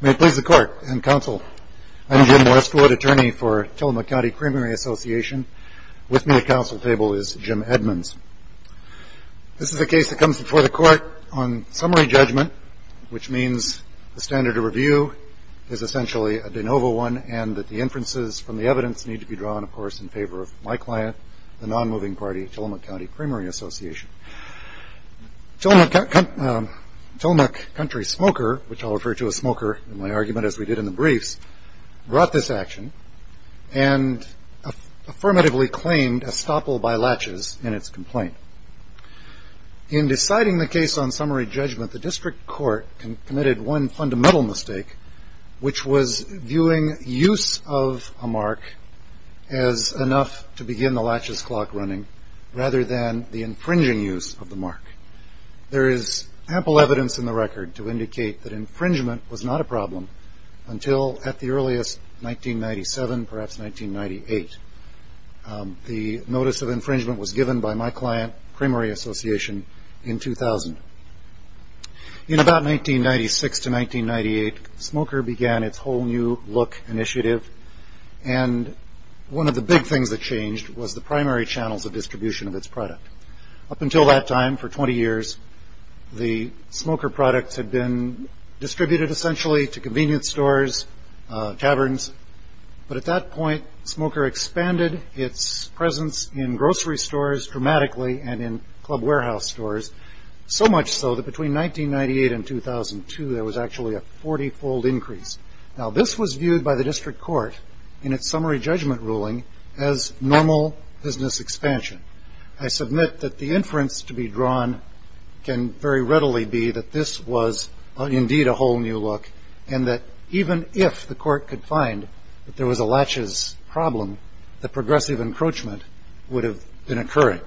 May it please the court and counsel, I'm Jim Westwood, attorney for Tillamook County Creamery Association. With me at council table is Jim Edmonds. This is a case that comes before the court on summary judgment, which means the standard of review is essentially a de novo one and that the inferences from the evidence need to be drawn, of course, in favor of my client, the non-moving party, Tillamook County Creamery Association. Tillamook Country Smoker, which I'll refer to as Smoker in my argument as we did in the briefs, brought this action and affirmatively claimed estoppel by latches in its complaint. In deciding the case on summary judgment, the district court committed one fundamental mistake, which was viewing use of a mark as enough to begin the latches clock running rather than the infringing use of the mark. There is ample evidence in the record to indicate that infringement was not a problem until at the earliest 1997, perhaps 1998. The notice of infringement was given by my client, Creamery Association, in 2000. In about 1996 to 1998, Smoker began its whole new look initiative, and one of the big things that changed was the primary channels of distribution of its product. Up until that time, for 20 years, the Smoker products had been distributed essentially to convenience stores, taverns, but at that point, Smoker expanded its presence in grocery stores dramatically and in club warehouse stores so much so that between 1998 and 2002, there was actually a 40-fold increase. Now, this was viewed by the district court in its summary judgment ruling as normal business expansion. I submit that the inference to be drawn can very readily be that this was indeed a whole new look and that even if the court could find that there was a latches problem, the progressive encroachment would have been occurring.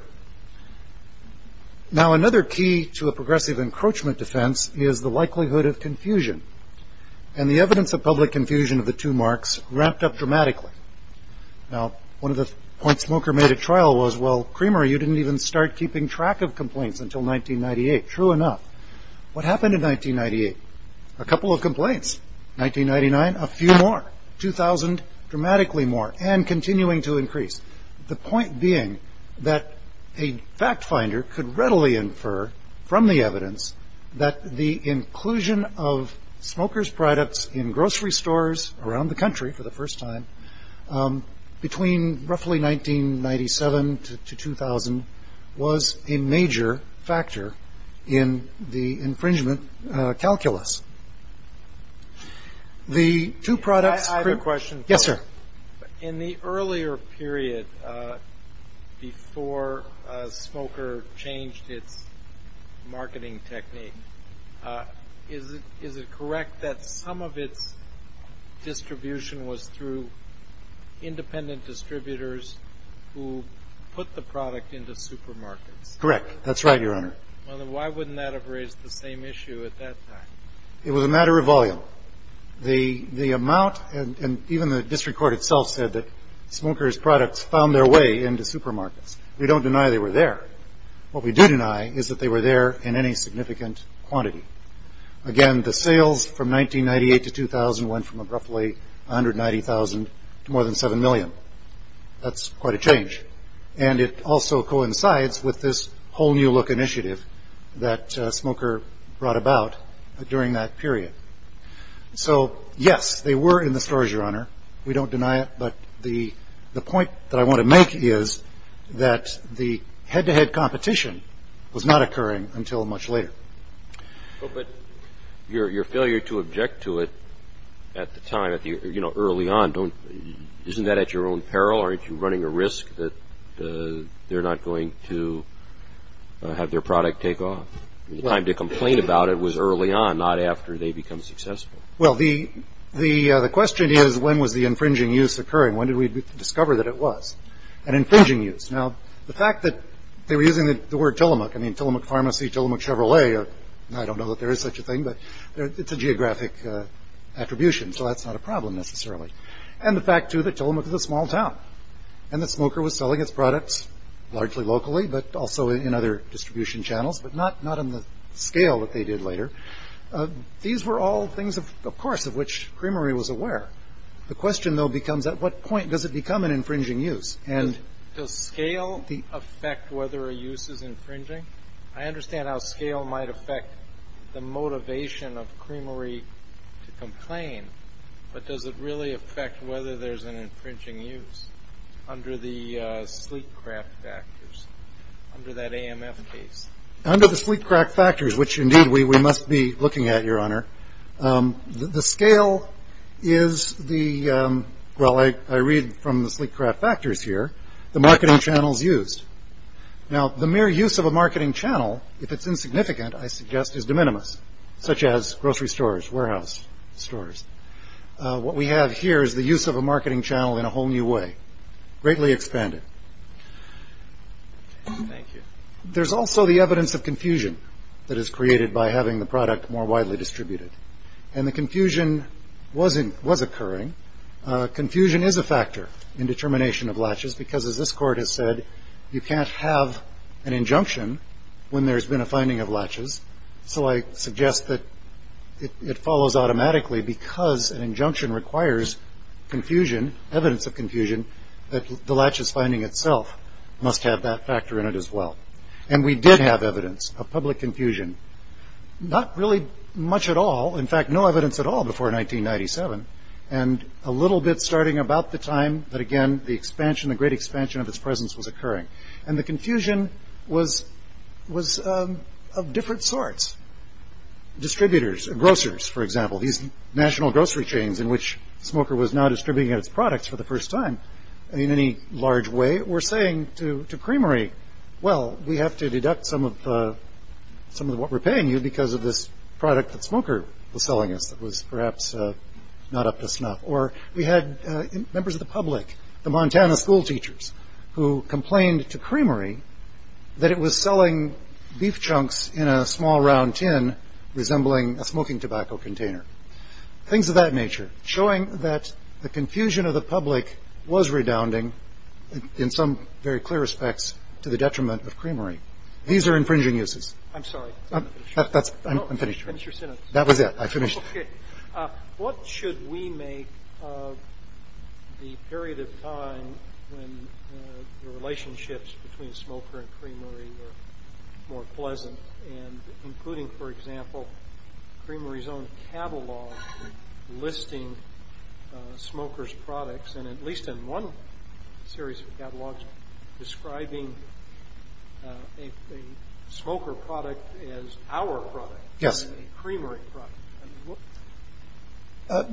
Now, another key to a progressive encroachment defense is the likelihood of confusion, and the evidence of public confusion of the two marks ramped up dramatically. Now, one of the points Smoker made at trial was, well, Creamery, you didn't even start keeping track of complaints until 1998. True enough. What happened in 1998? A couple of complaints. 1999, a few more. 2000, dramatically more, and continuing to increase. The point being that a fact finder could readily infer from the evidence that the inclusion of Smoker's products in grocery stores around the country for the first time between roughly 1997 to 2000 was a major factor in the infringement calculus. The two products. I have a question. Yes, sir. In the earlier period before Smoker changed its marketing technique, is it correct that some of its distribution was through independent distributors who put the product into supermarkets? Correct. That's right, Your Honor. Why wouldn't that have raised the same issue at that time? It was a matter of volume. The amount, and even the district court itself said that Smoker's products found their way into supermarkets. We don't deny they were there. What we do deny is that they were there in any significant quantity. Again, the sales from 1998 to 2000 went from roughly 190,000 to more than 7 million. That's quite a change. And it also coincides with this whole new look initiative that Smoker brought about during that period. So, yes, they were in the stores, Your Honor. We don't deny it. But the point that I want to make is that the head-to-head competition was not occurring until much later. But your failure to object to it at the time, you know, early on, isn't that at your own peril? Aren't you running a risk that they're not going to have their product take off? The time to complain about it was early on, not after they become successful. Well, the question is, when was the infringing use occurring? When did we discover that it was an infringing use? Now, the fact that they were using the word Tillamook, I mean, Tillamook Pharmacy, Tillamook Chevrolet, I don't know that there is such a thing, but it's a geographic attribution, so that's not a problem necessarily. And the fact, too, that Tillamook is a small town, and that Smoker was selling its products largely locally, but also in other distribution channels, but not on the scale that they did later. These were all things, of course, of which Creamery was aware. The question, though, becomes, at what point does it become an infringing use? Does scale affect whether a use is infringing? I understand how scale might affect the motivation of Creamery to complain, but does it really affect whether there's an infringing use under the sleek craft factors, under that AMF case? Under the sleek craft factors, which, indeed, we must be looking at, Your Honor, the scale is the ‑‑ well, I read from the sleek craft factors here, the marketing channels used. Now, the mere use of a marketing channel, if it's insignificant, I suggest is de minimis, such as grocery stores, warehouse stores. What we have here is the use of a marketing channel in a whole new way, greatly expanded. Thank you. There's also the evidence of confusion that is created by having the product more widely distributed, and the confusion was occurring. Confusion is a factor in determination of latches, because, as this Court has said, you can't have an injunction when there's been a finding of latches, so I suggest that it follows automatically, because an injunction requires confusion, evidence of confusion, that the latches finding itself must have that factor in it as well. And we did have evidence of public confusion. Not really much at all, in fact, no evidence at all before 1997, and a little bit starting about the time that, again, the expansion, the great expansion of its presence was occurring. And the confusion was of different sorts. Distributors, grocers, for example, these national grocery chains in which Smoker was now distributing its products for the first time in any large way, were saying to Creamery, well, we have to deduct some of what we're paying you because of this product that Smoker was selling us that was perhaps not up to snuff. Or we had members of the public, the Montana school teachers, who complained to Creamery that it was selling beef chunks in a small round tin resembling a smoking tobacco container, things of that nature, showing that the confusion of the public was redounding in some very clear respects to the detriment of Creamery. These are infringing uses. I'm sorry. I'm finished. Finish your sentence. That was it. I finished. Okay. What should we make of the period of time when the relationships between Smoker and Creamery were more pleasant, and including, for example, Creamery's own catalog listing Smoker's products, and at least in one series of catalogs describing a Smoker product as our product. Yes. A Creamery product.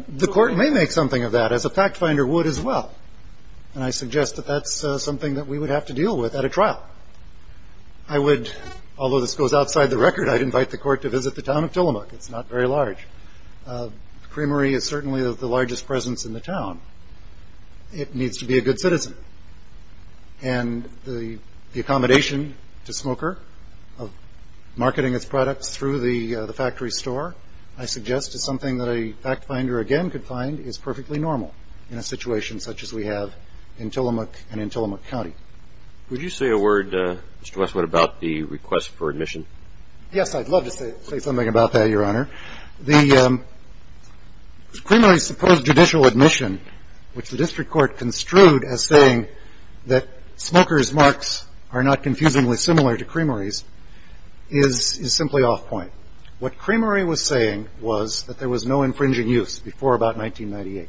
The court may make something of that, as a fact finder would as well, and I suggest that that's something that we would have to deal with at a trial. I would, although this goes outside the record, I'd invite the court to visit the town of Tillamook. It's not very large. Creamery is certainly the largest presence in the town. It needs to be a good citizen, and the accommodation to Smoker of marketing its products through the factory store, I suggest is something that a fact finder, again, could find is perfectly normal in a situation such as we have in Tillamook and in Tillamook County. Would you say a word, Mr. Westwood, about the request for admission? Yes, I'd love to say something about that, Your Honor. The Creamery's supposed judicial admission, which the district court construed as saying that Smoker's marks are not confusingly similar to Creamery's, is simply off point. What Creamery was saying was that there was no infringing use before about 1998.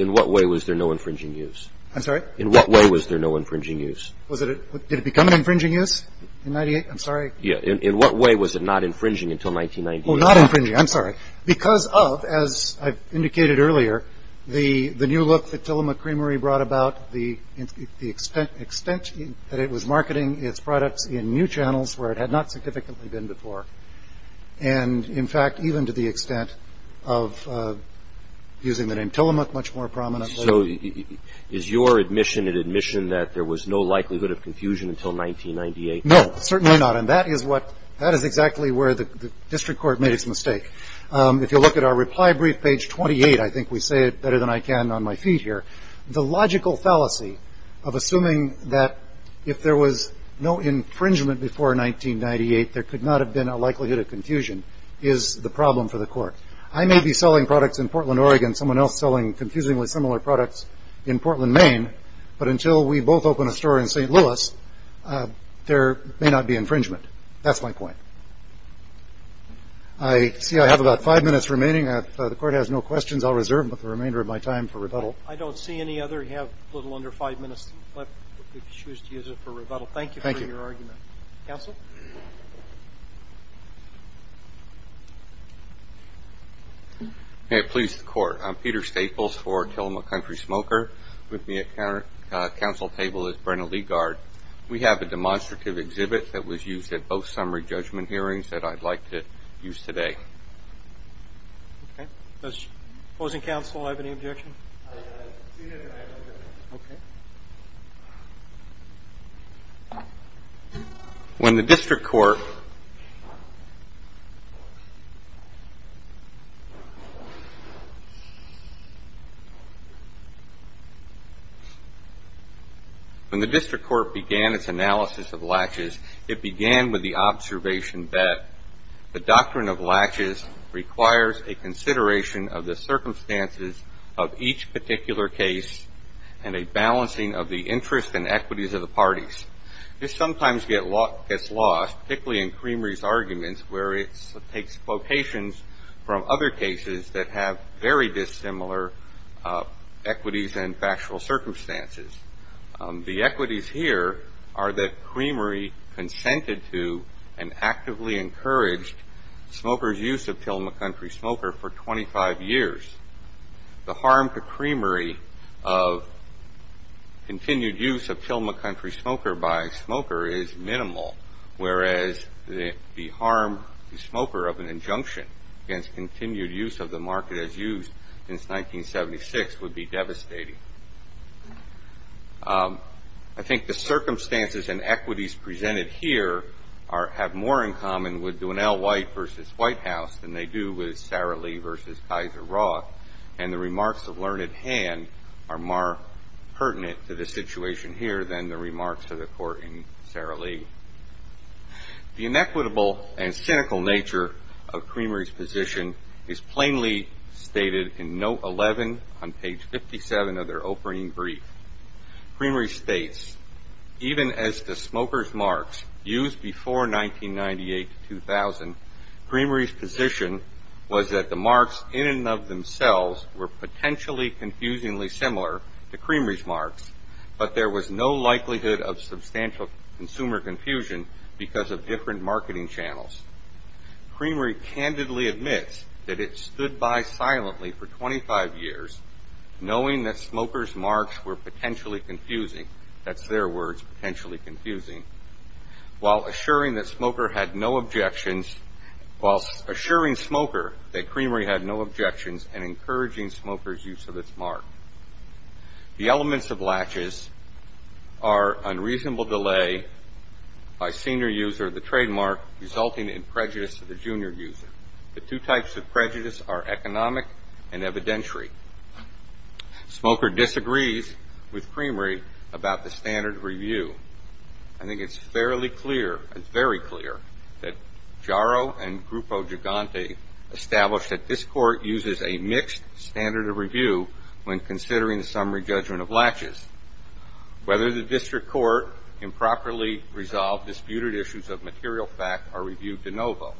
In what way was there no infringing use? I'm sorry? In what way was there no infringing use? Did it become an infringing use in 1998? I'm sorry. In what way was it not infringing until 1998? Not infringing. I'm sorry. Because of, as I've indicated earlier, the new look that Tillamook Creamery brought about, the extent that it was marketing its products in new channels where it had not significantly been before, and, in fact, even to the extent of using the name Tillamook much more prominently. So is your admission an admission that there was no likelihood of confusion until 1998? No, certainly not. And that is exactly where the district court made its mistake. If you'll look at our reply brief, page 28, I think we say it better than I can on my feet here, the logical fallacy of assuming that if there was no infringement before 1998, there could not have been a likelihood of confusion is the problem for the court. I may be selling products in Portland, Oregon, someone else selling confusingly similar products in Portland, Maine, but until we both open a store in St. Louis, there may not be infringement. That's my point. I see I have about five minutes remaining. If the court has no questions, I'll reserve the remainder of my time for rebuttal. I don't see any other. You have a little under five minutes left if you choose to use it for rebuttal. Thank you for your argument. Counsel? May it please the court. I'm Peter Staples for Tillamook Country Smoker. With me at counsel table is Brenna Ligard. We have a demonstrative exhibit that was used at both summary judgment hearings that I'd like to use today. Does opposing counsel have any objection? Okay. When the district court began its analysis of latches, it began with the observation that the doctrine of latches requires a consideration of the circumstances of each particular case and a balancing of the interests and equities of the parties. This sometimes gets lost, particularly in Creamery's arguments, where it takes quotations from other cases that have very dissimilar equities and factual circumstances. The equities here are that Creamery consented to and actively encouraged smokers' use of Tillamook Country Smoker for 25 years. The harm to Creamery of continued use of Tillamook Country Smoker by a smoker is minimal, whereas the harm to the smoker of an injunction against continued use of the market as used since 1976 would be devastating. I think the circumstances and equities presented here have more in common with Dwinell White v. Whitehouse than they do with Sara Lee v. Kaiser Roth, and the remarks of learned hand are more pertinent to the situation here than the remarks of the court in Sara Lee. The inequitable and cynical nature of Creamery's position is plainly stated in Note 11 on page 57 of their opening brief. Creamery states, Even as to smokers' marks used before 1998-2000, Creamery's position was that the marks in and of themselves were potentially confusingly similar to Creamery's marks, but there was no likelihood of substantial consumer confusion because of different marketing channels. Creamery candidly admits that it stood by silently for 25 years knowing that smokers' marks were potentially confusing, that's their words, potentially confusing, while assuring Smoker that Creamery had no objections and encouraging smokers' use of its mark. The elements of latches are unreasonable delay by senior user of the trademark resulting in prejudice to the junior user. The two types of prejudice are economic and evidentiary. Smoker disagrees with Creamery about the standard review. I think it's fairly clear, it's very clear, that Jaro and Grupo Gigante established that this court uses a mixed standard of review when considering the summary judgment of latches. Whether the district court improperly resolved disputed issues of material fact are reviewed de novo.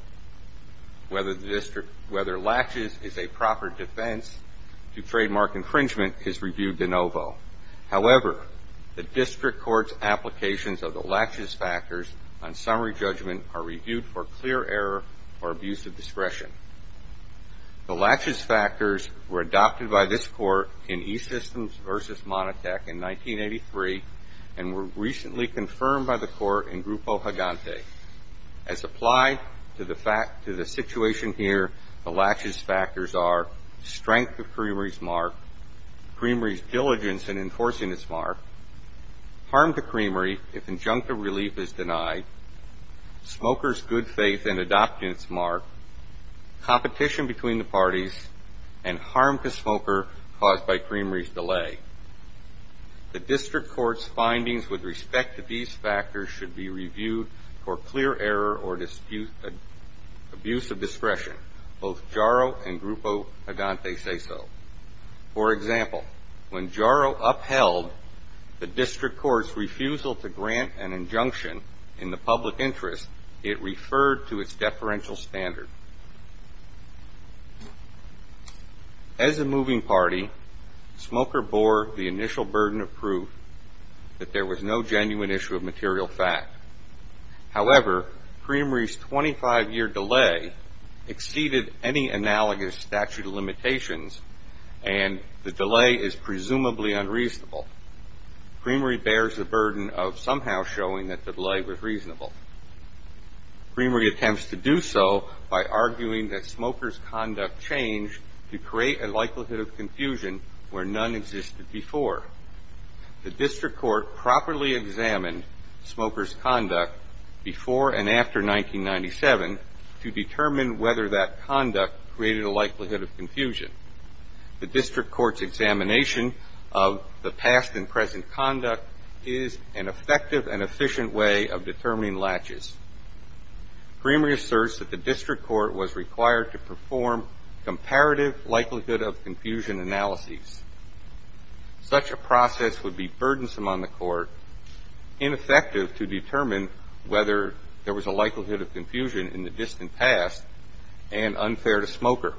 Whether latches is a proper defense to trademark infringement is reviewed de novo. However, the district court's applications of the latches factors on summary judgment The latches factors were adopted by this court in E-Systems v. Monotech in 1983 and were recently confirmed by the court in Grupo Gigante. As applied to the situation here, the latches factors are strength of Creamery's mark, Creamery's diligence in enforcing its mark, harm to Creamery if injunctive relief is denied, smoker's good faith in adopting its mark, competition between the parties, and harm to smoker caused by Creamery's delay. The district court's findings with respect to these factors should be reviewed for clear error or abuse of discretion. Both Jaro and Grupo Gigante say so. For example, when Jaro upheld the district court's refusal to grant an injunction in the public interest, it referred to its deferential standard. As a moving party, smoker bore the initial burden of proof that there was no genuine issue of material fact. However, Creamery's 25-year delay exceeded any analogous statute of limitations and the delay is presumably unreasonable. Creamery bears the burden of somehow showing that the delay was reasonable. Creamery attempts to do so by arguing that smoker's conduct changed to create a likelihood of confusion where none existed before. The district court properly examined smoker's conduct before and after 1997 to determine whether that conduct created a likelihood of confusion. The district court's examination of the past and present conduct is an effective and efficient way of determining latches. Creamery asserts that the district court was required to perform comparative likelihood of confusion analyses. Such a process would be burdensome on the court, ineffective to determine whether there was a likelihood of confusion in the distant past and unfair to smoker.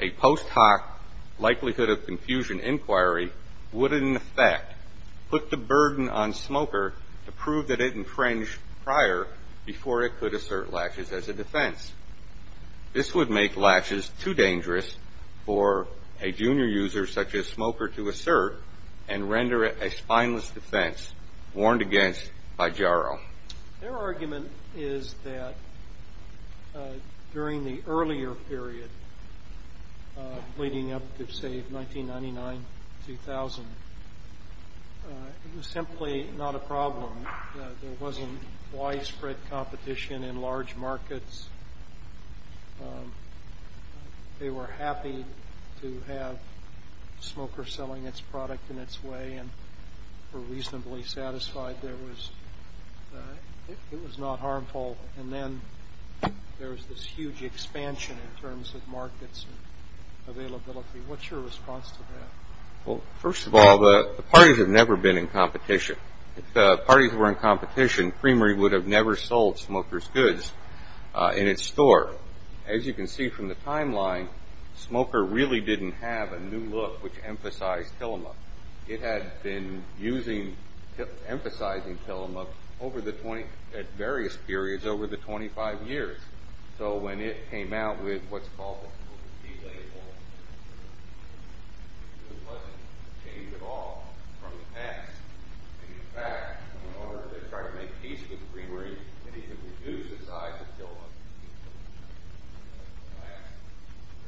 A post hoc likelihood of confusion inquiry would, in effect, put the burden on smoker to prove that it infringed prior before it could assert latches as a defense. This would make latches too dangerous for a junior user such as smoker to assert and render it a spineless defense warned against by Jarrow. Their argument is that during the earlier period leading up to, say, 1999-2000, it was simply not a problem. There wasn't widespread competition in large markets. They were happy to have smokers selling its product in its way and were reasonably satisfied it was not harmful. Then there was this huge expansion in terms of markets and availability. What's your response to that? First of all, the parties have never been in competition. If the parties were in competition, Creamery would have never sold smoker's goods in its store. As you can see from the timeline, smoker really didn't have a new look, which emphasized Tillamook. It had been emphasizing Tillamook at various periods over the 25 years. So when it came out with what's called the key label, it wasn't changed at all from the past. In fact, in order to try to make peace with Creamery, it needed to reduce the size of Tillamook.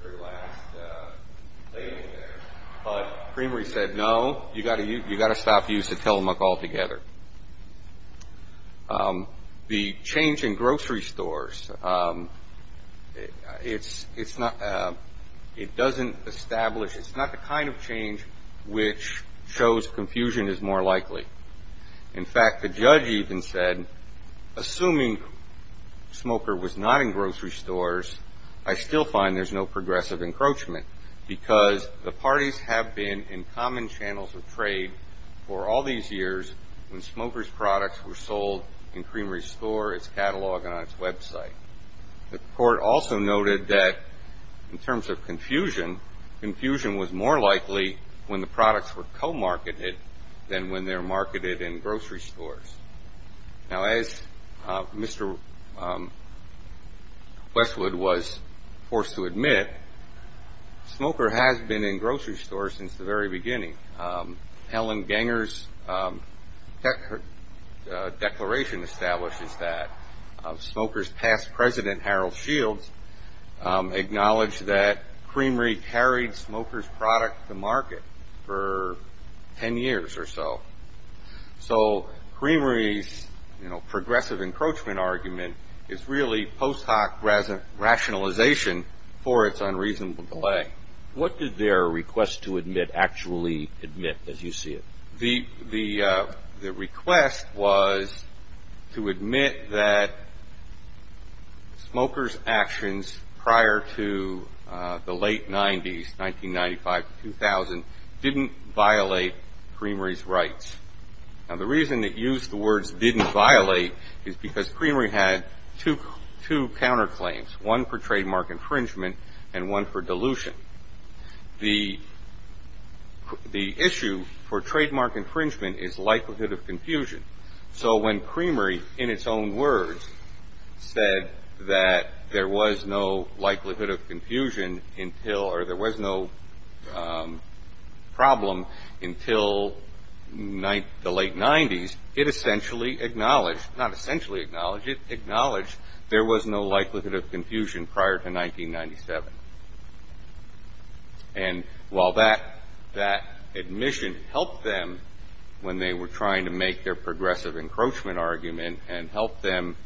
That's their last label there. But Creamery said, no, you've got to stop using Tillamook altogether. The change in grocery stores, it doesn't establish. It's not the kind of change which shows confusion is more likely. In fact, the judge even said, assuming smoker was not in grocery stores, I still find there's no progressive encroachment because the parties have been in common channels of trade for all these years when smoker's products were sold in Creamery's store, its catalog, and on its website. The court also noted that in terms of confusion, confusion was more likely when the products were co-marketed than when they're marketed in grocery stores. Now, as Mr. Westwood was forced to admit, smoker has been in grocery stores since the very beginning. Helen Ganger's declaration establishes that. Smoker's past president, Harold Shields, acknowledged that Creamery carried smoker's product to market for 10 years or so. So Creamery's progressive encroachment argument is really post hoc rationalization for its unreasonable delay. What did their request to admit actually admit, as you see it? The request was to admit that smoker's actions prior to the late 90s, 1995 to 2000, didn't violate Creamery's rights. Now, the reason it used the words didn't violate is because Creamery had two counterclaims, one for trademark infringement and one for dilution. The issue for trademark infringement is likelihood of confusion. So when Creamery, in its own words, said that there was no likelihood of confusion until, or there was no problem until the late 90s, it essentially acknowledged, not essentially acknowledged, it acknowledged there was no likelihood of confusion prior to 1997. And while that admission helped them when they were trying to make their progressive encroachment argument and helped them,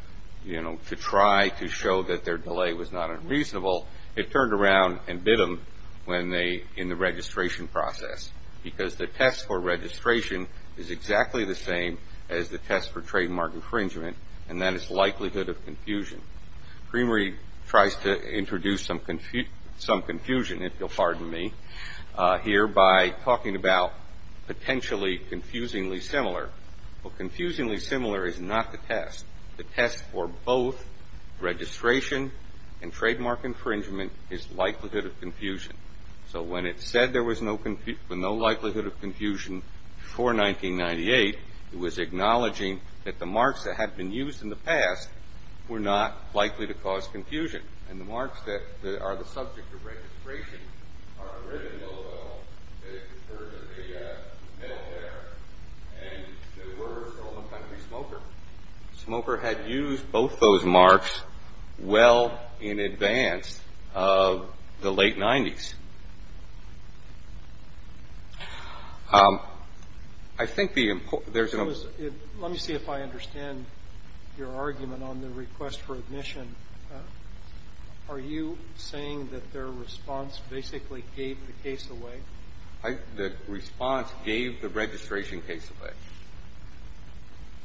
you know, to try to show that their delay was not unreasonable, it turned around and bit them when they, in the registration process. Because the test for registration is exactly the same as the test for trademark infringement, and that is likelihood of confusion. Creamery tries to introduce some confusion, if you'll pardon me, here by talking about potentially confusingly similar. Well, confusingly similar is not the test. The test for both registration and trademark infringement is likelihood of confusion. So when it said there was no likelihood of confusion before 1998, it was acknowledging that the marks that had been used in the past were not likely to cause confusion. And the marks that are the subject of registration are the ribbon logo, that it refers to the military, and there were stolen country smoker. Smoker had used both those marks well in advance of the late 90s. I think the important – there's no – Let me see if I understand your argument on the request for admission. Are you saying that their response basically gave the case away? The response gave the registration case away.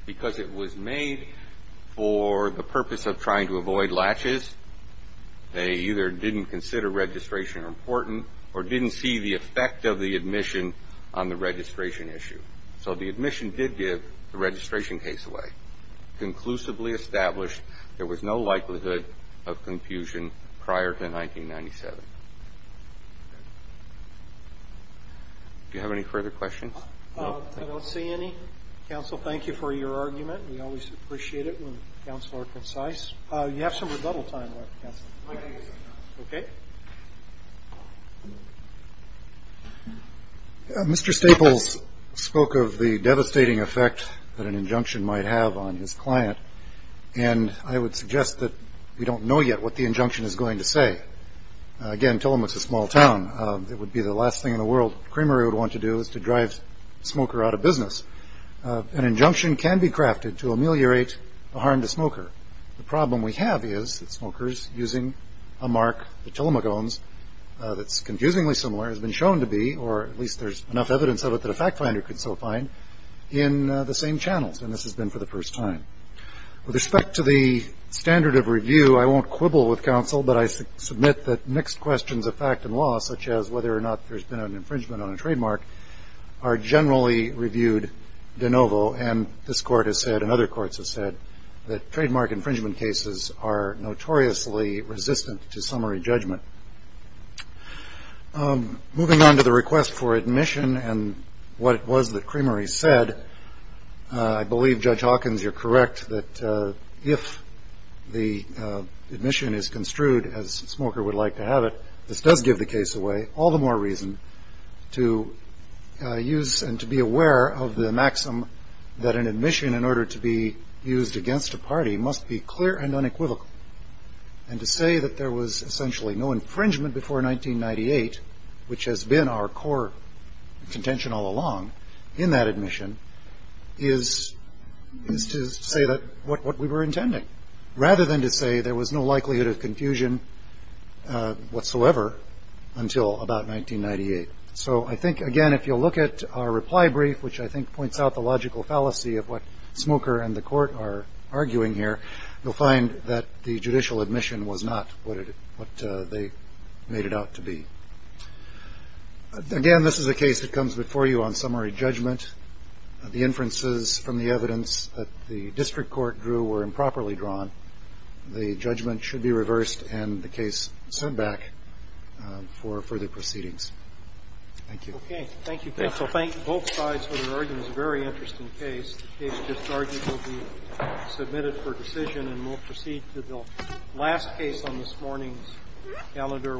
Because it was made for the purpose of trying to avoid latches, they either didn't consider registration important or didn't see the effect of the admission on the registration issue. So the admission did give the registration case away. Conclusively established, there was no likelihood of confusion prior to 1997. Do you have any further questions? I don't see any. Counsel, thank you for your argument. We always appreciate it when counsel are concise. You have some rebuttal time left, Counsel. Okay. Mr. Staples spoke of the devastating effect that an injunction might have on his client, and I would suggest that we don't know yet what the injunction is going to say. Again, Tillamook's a small town. It would be the last thing in the world Kramer would want to do is to drive Smoker out of business. An injunction can be crafted to ameliorate a harm to Smoker. The problem we have is that Smoker's using a mark that Tillamook owns that's confusingly similar, has been shown to be, or at least there's enough evidence of it that a fact finder could so find, in the same channels, and this has been for the first time. With respect to the standard of review, I won't quibble with counsel, but I submit that mixed questions of fact and law, such as whether or not there's been an infringement on a trademark, are generally reviewed de novo, and this Court has said and other courts have said that trademark infringement cases are notoriously resistant to summary judgment. Moving on to the request for admission and what it was that Kramer said, I believe Judge Hawkins, you're correct, that if the admission is construed as Smoker would like to have it, this does give the case away all the more reason to use and to be aware of the maxim that an admission in order to be used against a party must be clear and unequivocal, and to say that there was essentially no infringement before 1998, which has been our core contention all along in that admission, is to say that what we were intending, rather than to say there was no likelihood of confusion whatsoever until about 1998. So I think, again, if you'll look at our reply brief, which I think points out the logical fallacy of what Smoker and the Court are arguing here, you'll find that the judicial admission was not what they made it out to be. Again, this is a case that comes before you on summary judgment. The inferences from the evidence that the district court drew were improperly drawn. The judgment should be reversed and the case sent back for further proceedings. Thank you. Okay. Thank you, Keith. I'll thank both sides for their arguments. It's a very interesting case. The case just argued will be submitted for decision, and we'll proceed to the last case on this morning's calendar.